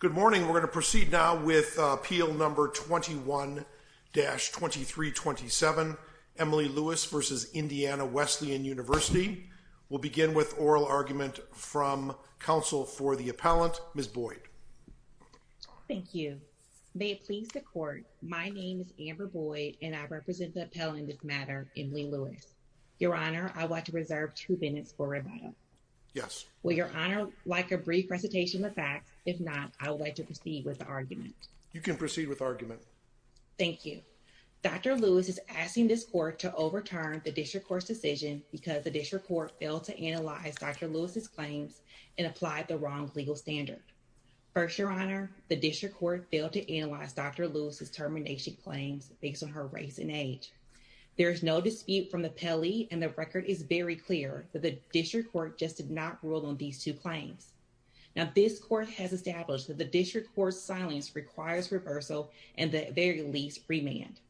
Good morning. We're going to proceed now with appeal number 21-2327, Emily Lewis v. Indiana Wesleyan University. We'll begin with oral argument from counsel for the appellant, Ms. Boyd. Thank you. May it please the court, my name is Amber Boyd and I represent the appellant this matter, Emily Lewis. Your Honor, I want to reserve two minutes for rebuttal. Yes. Will Your Honor like a brief presentation of the facts? If not, I would like to proceed with the argument. You can proceed with argument. Thank you. Dr. Lewis is asking this court to overturn the district court's decision because the district court failed to analyze Dr. Lewis's claims and applied the wrong legal standard. First, Your Honor, the district court failed to analyze Dr. Lewis's termination claims based on her race and age. There is no dispute from and the record is very clear that the district court just did not rule on these two claims. Now, this court has established that the district court's silence requires reversal and at the very least, remand.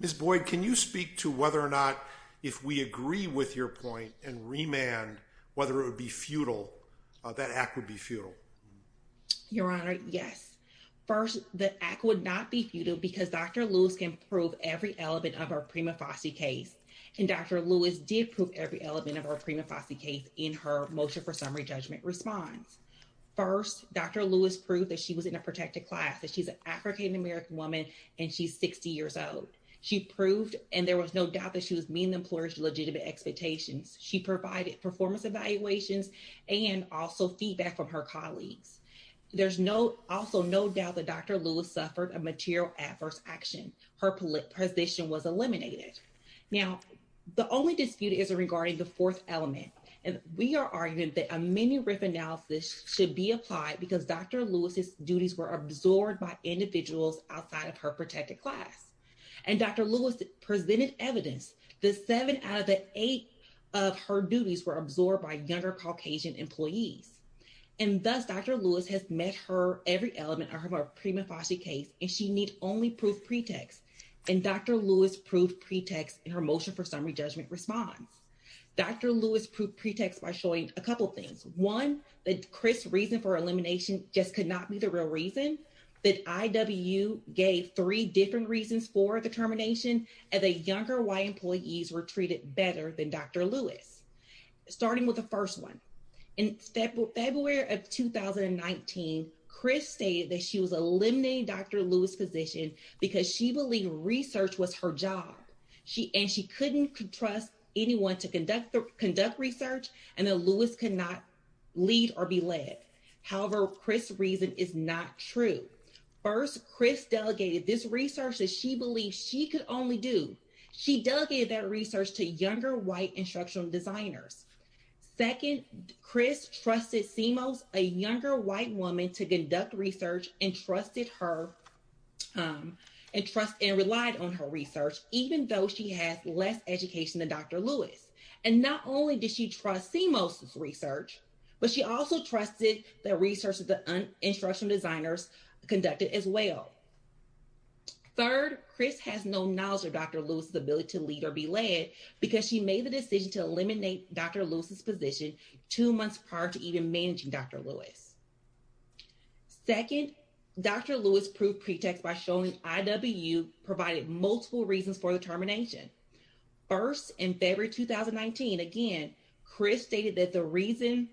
Ms. Boyd, can you speak to whether or not if we agree with your point and remand, whether it would be futile, that act would be futile? Your Honor, yes. First, the act would not be futile because Dr. Lewis can prove every element of her prima facie case and Dr. Lewis did prove every element of her prima facie case in her motion for summary judgment response. First, Dr. Lewis proved that she was in a protected class, that she's an African-American woman and she's 60 years old. She proved and there was no doubt that she was meeting the employer's legitimate expectations. She provided performance evaluations and also feedback from her colleagues. There's also no doubt that Dr. Lewis suffered a material adverse action. Her position was eliminated. Now, the only dispute is regarding the fourth element and we are arguing that a mini-riff analysis should be applied because Dr. Lewis's duties were absorbed by individuals outside of her protected class and Dr. Lewis presented evidence that seven out of the eight of her duties were absorbed by younger Caucasian employees and thus Dr. Lewis has met her every element of her prima facie case and she need only proof pretext and Dr. Lewis proved pretext in her motion for summary judgment response. Dr. Lewis proved pretext by showing a couple things. One, that Chris's reason for elimination just could not be the real reason, that IWU gave three different reasons for the termination and the younger Y employees were treated better than Dr. Lewis. Starting with the first one, in February of 2019, Chris stated that she was eliminating Dr. Lewis's position because she believed research was her job and she couldn't trust anyone to conduct research and that Lewis could not lead or be led. However, Chris's reason is not true. First, Chris delegated this research that she believed she could only do. She delegated that research to younger white instructional designers. Second, Chris trusted CMOS, a younger white woman, to conduct research and trusted her and relied on her research even though she has less education than Dr. Lewis and not only did she trust CMOS's research, but she also trusted the research instructional designers conducted as well. Third, Chris has no knowledge of Dr. Lewis's ability to lead or be led because she made the decision to eliminate Dr. Lewis's position two months prior to even managing Dr. Lewis. Second, Dr. Lewis proved pretext by showing IWU provided multiple reasons for the termination. First, in February 2019, again, Chris stated that the reason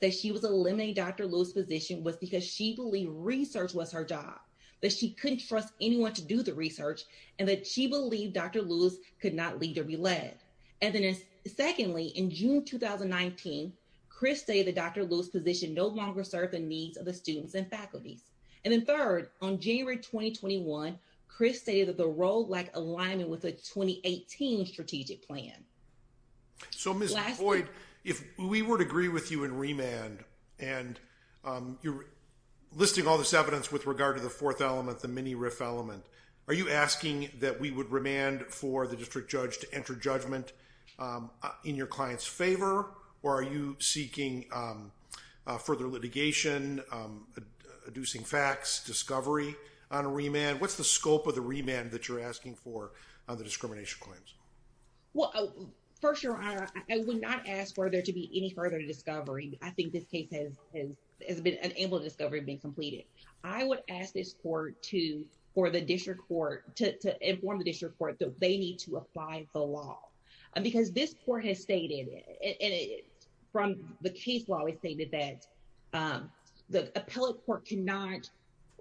that was because she believed research was her job, that she couldn't trust anyone to do the research, and that she believed Dr. Lewis could not lead or be led. And then secondly, in June 2019, Chris stated that Dr. Lewis's position no longer served the needs of the students and faculties. And then third, on January 2021, Chris stated that the role lacked alignment with the 2018 strategic plan. So, Ms. Boyd, if we were to agree with you in remand, and you're listing all this evidence with regard to the fourth element, the mini-RIF element, are you asking that we would remand for the district judge to enter judgment in your client's favor, or are you seeking further litigation, adducing facts, discovery on a remand? What's the scope of the remand that you're asking for on the discrimination claims? Well, first, your honor, I would not ask for there to be any further discovery. I think this case has been unable to discover and been completed. I would ask this court to, for the district court, to inform the district court that they need to apply the law. Because this court has stated, and from the case law, it stated that the appellate court cannot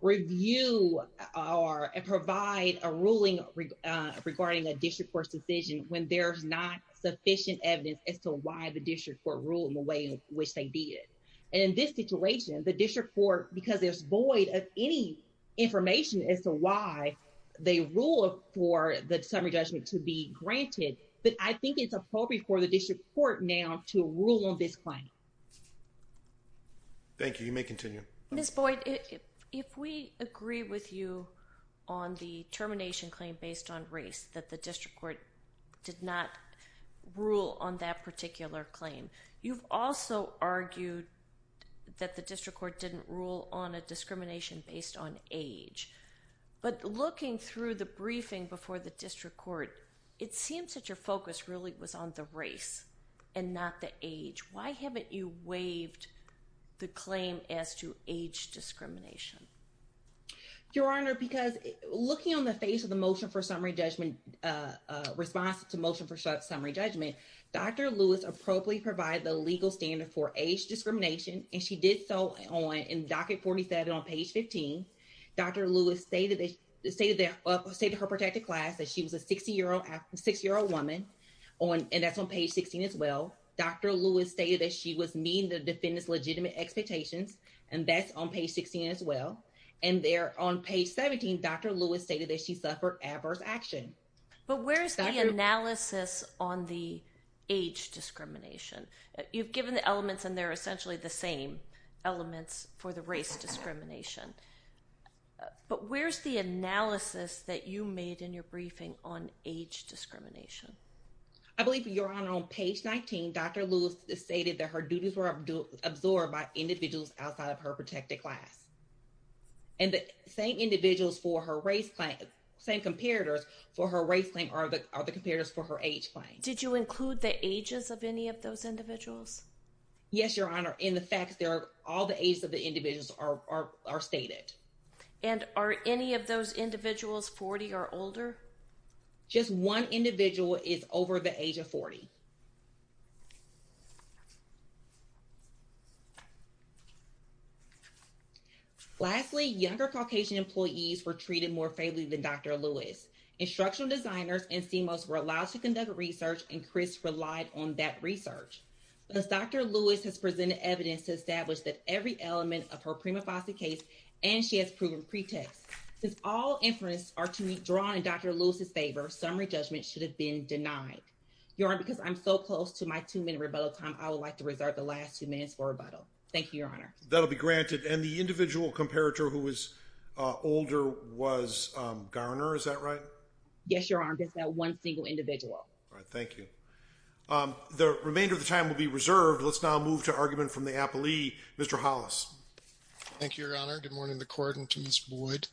review or provide a ruling regarding a district court's decision when there's not sufficient evidence as to why the district court ruled in the way in which they did. And in this situation, the district court, because there's void of any information as to why they ruled for the summary judgment to be granted, but I think it's appropriate for the district court now to rule on this claim. Thank you. You may continue. Ms. Boyd, if we agree with you on the termination claim based on race that the district court did not rule on that particular claim, you've also argued that the district court didn't rule on a discrimination based on age. But looking through the briefing before the district court, it seems that your focus really was on the race and not the age. Why haven't you waived the claim as to age discrimination? Your Honor, because looking on the face of the motion for summary judgment, response to motion for summary judgment, Dr. Lewis appropriately provided the legal standard for age discrimination, and she did so on docket 47 on page 15. Dr. Lewis stated her protected class that she was a six-year-old woman, and that's on page 16 as well. Dr. Lewis stated that she was meeting the defendant's legitimate expectations, and that's on page 16 as well. And there on page 17, Dr. Lewis stated that she suffered adverse action. But where's the analysis on the age discrimination? You've given the elements, and they're essentially the same elements for the race discrimination. But where's the analysis that you made in your briefing on age discrimination? I believe, Your Honor, on page 19, Dr. Lewis stated that her duties were absorbed by individuals outside of her protected class. And the same individuals for her race claim, same comparators for her race claim are the comparators for her age claim. Did you include the ages of any of those individuals? Yes, Your Honor. In the facts, all the ages of the individuals are stated. And are any of those individuals 40 or older? Just one individual is over the age of 40. Lastly, younger Caucasian employees were treated more favorably than Dr. Lewis. Instructional designers and CMOs were allowed to conduct research, and Chris relied on that as Dr. Lewis has presented evidence to establish that every element of her prima facie case, and she has proven pretext. Since all inferences are to be drawn in Dr. Lewis's favor, summary judgment should have been denied. Your Honor, because I'm so close to my two-minute rebuttal time, I would like to reserve the last two minutes for rebuttal. Thank you, Your Honor. That'll be granted. And the individual comparator who was older was Garner, is that right? Yes, Your Honor, just that one single individual. All right, thank you. The remainder of the time will be reserved. Let's now move to argument from the appellee, Mr. Hollis. Thank you, Your Honor. Good morning, the court, and to Ms. Boyd,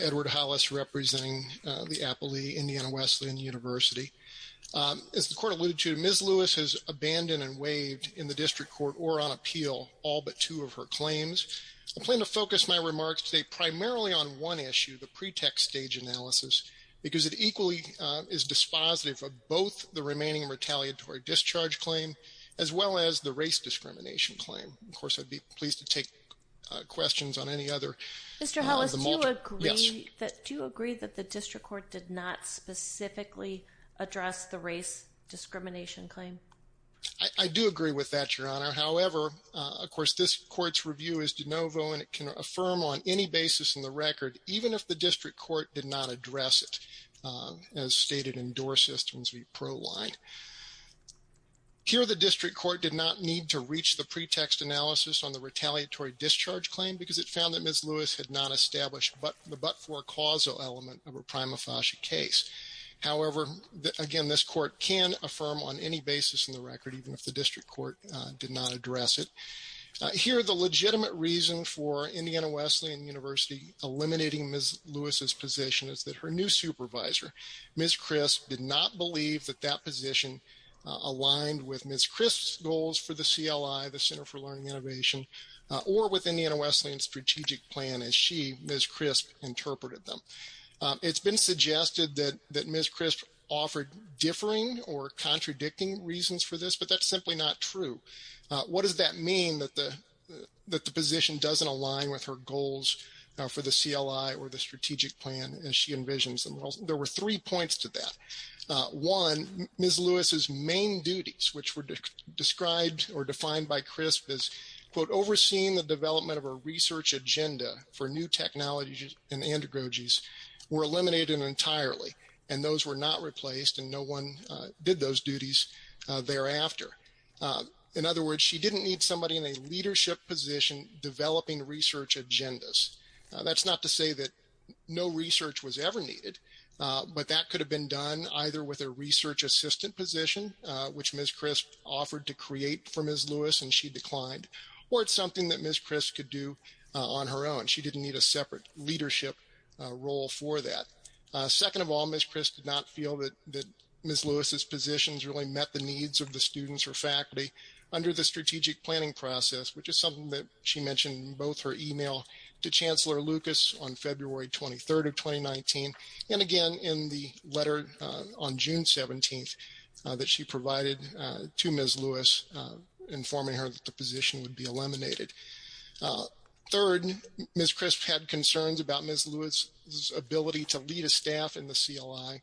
Edward Hollis, representing the appellee, Indiana Wesleyan University. As the court alluded to, Ms. Lewis has abandoned and waived in the district court or on appeal all but two of her claims. I plan to focus my remarks today primarily on one issue, the pretext stage analysis, because it equally is dispositive of both the remaining retaliatory discharge claim as well as the race discrimination claim. Of course, I'd be pleased to take questions on any other. Mr. Hollis, do you agree that the district court did not specifically address the race discrimination claim? I do agree with that, Your Honor. However, of course, this court's review is de novo and it can affirm on any basis in the record, even if the district court did not address it, as stated in DOOR Systems v. ProLine. Here, the district court did not need to reach the pretext analysis on the retaliatory discharge claim because it found that Ms. Lewis had not established the but-for-causal element of a prima facie case. However, again, this court can affirm on any basis in the record, even if the district court did not address it. Here, the legitimate reason for Indiana Wesleyan University eliminating Ms. Lewis's position is that her new supervisor, Ms. Crisp, did not believe that that position aligned with Ms. Crisp's goals for the CLI, the Center for Learning Innovation, or with Indiana Wesleyan's strategic plan as she, Ms. Crisp, interpreted them. It's been suggested that Ms. Crisp offered differing or contradicting reasons for this, but that's simply not true. What does that mean, that the position doesn't align with her goals for the CLI or the strategic plan as she envisions them? There were three points to that. One, Ms. Lewis's main duties, which were described or defined by Crisp as, quote, overseeing the development of a research agenda for new technologies and analogies, were eliminated entirely and those were not replaced and no one did those duties thereafter. In other words, she didn't need somebody in a leadership position developing research agendas. That's not to say that no research was ever needed, but that could have been done either with a research assistant position, which Ms. Crisp offered to create for Ms. Lewis and she declined, or it's something that Ms. Crisp could do on her own. She didn't need a separate leadership role for that. Second of all, Ms. Crisp did not feel that Ms. Lewis's positions really met the needs of the students or faculty under the strategic planning process, which is something that she mentioned in both her email to Chancellor Lucas on February 23rd of 2019 and again in the letter on June 17th that she provided to Ms. Lewis informing her that the position would be eliminated. Third, Ms. Crisp had concerns about Ms. Staff and the CLI,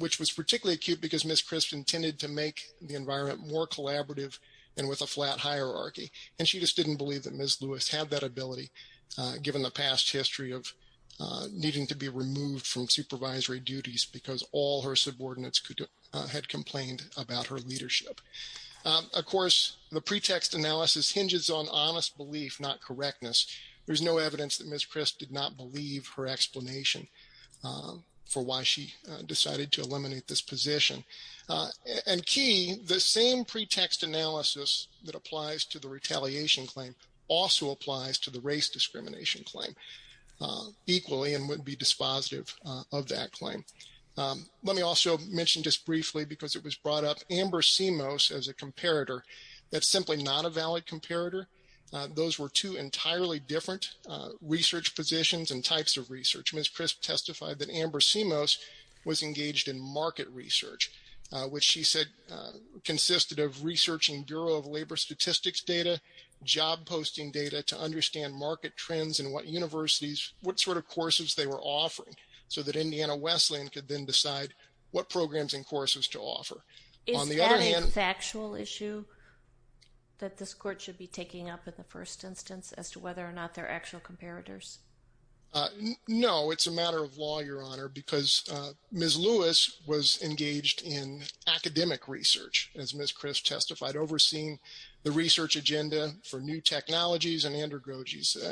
which was particularly acute because Ms. Crisp intended to make the environment more collaborative and with a flat hierarchy and she just didn't believe that Ms. Lewis had that ability given the past history of needing to be removed from supervisory duties because all her subordinates had complained about her leadership. Of course, the pretext analysis hinges on honest belief, not correctness. There's no evidence that Ms. Crisp did not believe her explanation for why she decided to eliminate this position. And key, the same pretext analysis that applies to the retaliation claim also applies to the race discrimination claim equally and would be dispositive of that claim. Let me also mention just briefly because it was brought up, Amber Simos as a comparator, that's simply not a valid comparator. Those were two entirely different research positions and types of research. Ms. Crisp testified that Amber Simos was engaged in market research, which she said consisted of researching Bureau of Labor Statistics data, job posting data to understand market trends and what universities, what sort of courses they were offering so that Indiana Wesleyan could then decide what programs and courses to offer. Is that a factual issue that this court should be taking up in the first instance as to whether or not they're actual comparators? No, it's a matter of law, Your Honor, because Ms. Lewis was engaged in academic research, as Ms. Crisp testified, overseeing the research agenda for new technologies and androgyny.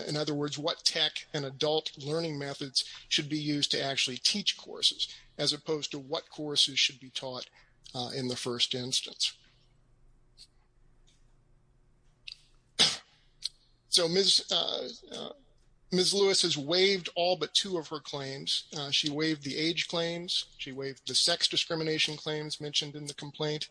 In other words, what tech and adult learning methods should be used to actually teach courses as opposed to what courses should be taught in the first instance. So, Ms. Lewis has waived all but two of her claims. She waived the age claims. She waived the sex discrimination claims mentioned in the complaint.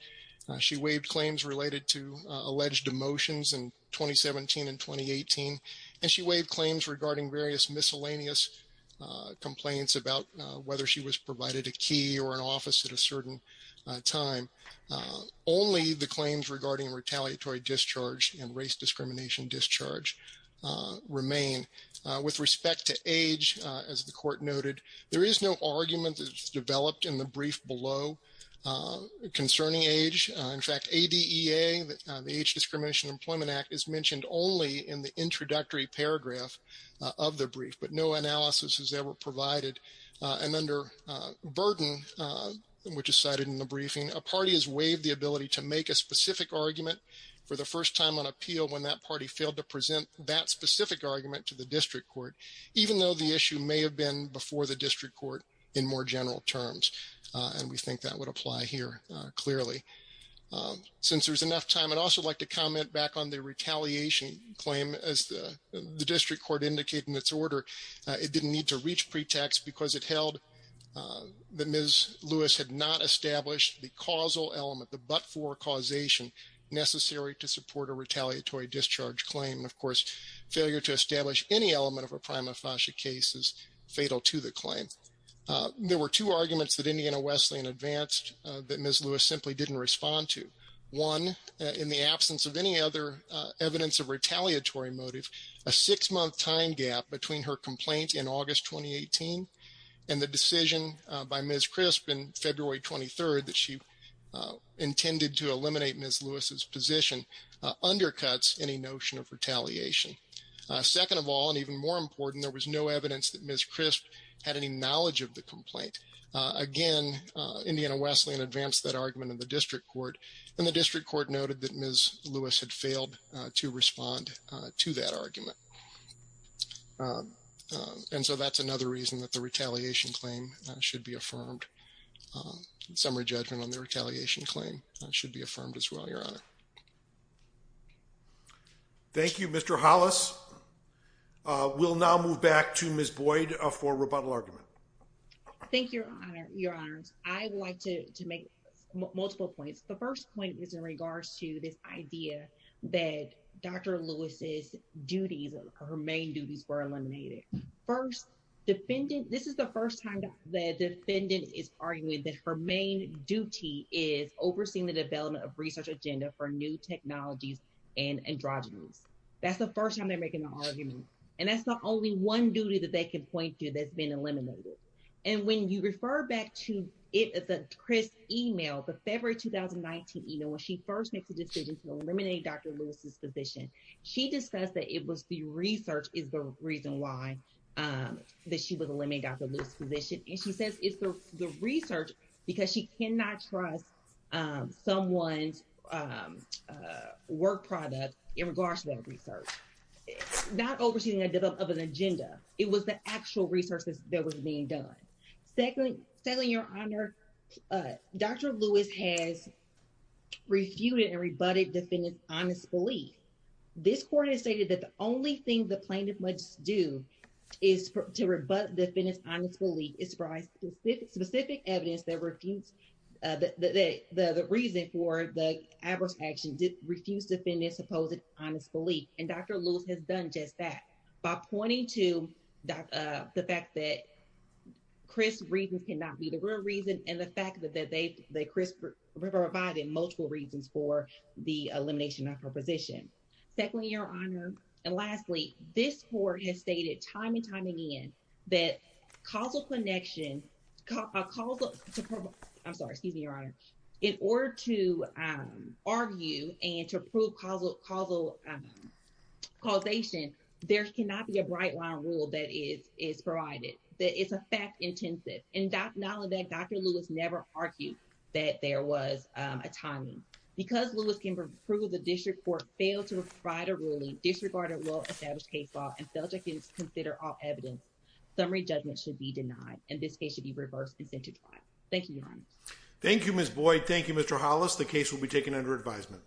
She waived claims related to alleged emotions in 2017 and 2018. And she waived claims regarding various miscellaneous complaints about whether she was provided a key or an office at a certain time. Only the claims regarding retaliatory discharge and race discrimination discharge remain. With respect to age, as the court noted, there is no argument that's developed in the brief below concerning age. In fact, ADEA, the Age Discrimination Employment Act, is mentioned only in the introductory paragraph of the brief, but no analysis is ever provided. And under burden, which is cited in the briefing, a party has waived the ability to make a specific argument for the first time on appeal when that party failed to present that specific argument to the district court, even though the issue may have been before the district court in more general terms. And we think that would apply here clearly. Since there's enough time, I'd also like to comment back on the retaliation claim. As the district court indicated in its brief, Ms. Lewis had not established the causal element, the but-for causation necessary to support a retaliatory discharge claim. Of course, failure to establish any element of a prima facie case is fatal to the claim. There were two arguments that Indiana Wesleyan advanced that Ms. Lewis simply didn't respond to. One, in the absence of any other evidence of retaliatory motive, a six-month time gap between her complaint in August 2018 and the decision by Ms. Crisp in February 23rd that she intended to eliminate Ms. Lewis's position undercuts any notion of retaliation. Second of all, and even more important, there was no evidence that Ms. Crisp had any knowledge of the complaint. Again, Indiana Wesleyan advanced that argument in the case of Ms. Crisp. And so, that's another reason that the retaliation claim should be affirmed. Summary judgment on the retaliation claim should be affirmed as well, Your Honor. Thank you, Mr. Hollis. We'll now move back to Ms. Boyd for rebuttal argument. Thank you, Your Honor. I would like to make multiple points. The first point is in regards to this idea that Dr. Lewis's duties, her main duties were eliminated. First, this is the first time the defendant is arguing that her main duty is overseeing the development of research agenda for new technologies and androgynous. That's the first time they're making an argument. And that's the only one duty that they can point to that's been eliminated. And when you refer back to Crisp's email, the February 2019 email, when she first made the decision to eliminate Dr. Lewis's position, she discussed that it was the research is the reason why that she was eliminating Dr. Lewis's position. And she says it's the research because she cannot trust someone's work product in regards to that research. Not overseeing the development of an agenda, it was the actual research that was being done. Secondly, Your Honor, Dr. Lewis has refuted and rebutted the defendant's honest belief. This court has stated that the only thing the plaintiff must do is to rebut the defendant's honest belief is to provide specific evidence that the reason for the adverse action did refuse the defendant's supposed honest belief. And Dr. Lewis has done just that by pointing to the fact that Crisp's reasons cannot be the real reason and the fact that Crisp provided multiple reasons for the elimination of her position. Secondly, Your Honor, and lastly, this court has stated time and time again that causal connection, I'm sorry, excuse me, Your Honor. In order to argue and to prove causal causation, there cannot be a bright line rule that is provided, that is a fact intensive. And not only that, Dr. Lewis never argued that there was a timing. Because Lewis can prove the district court failed to provide a ruling, disregarded well-established case law, and failed to consider all evidence, summary judgment should be denied and this case should be reversed and sent to trial. Thank you, Your Honor. Thank you, Ms. Boyd. Thank you, Mr. Hollis. The case will be taken under advisement.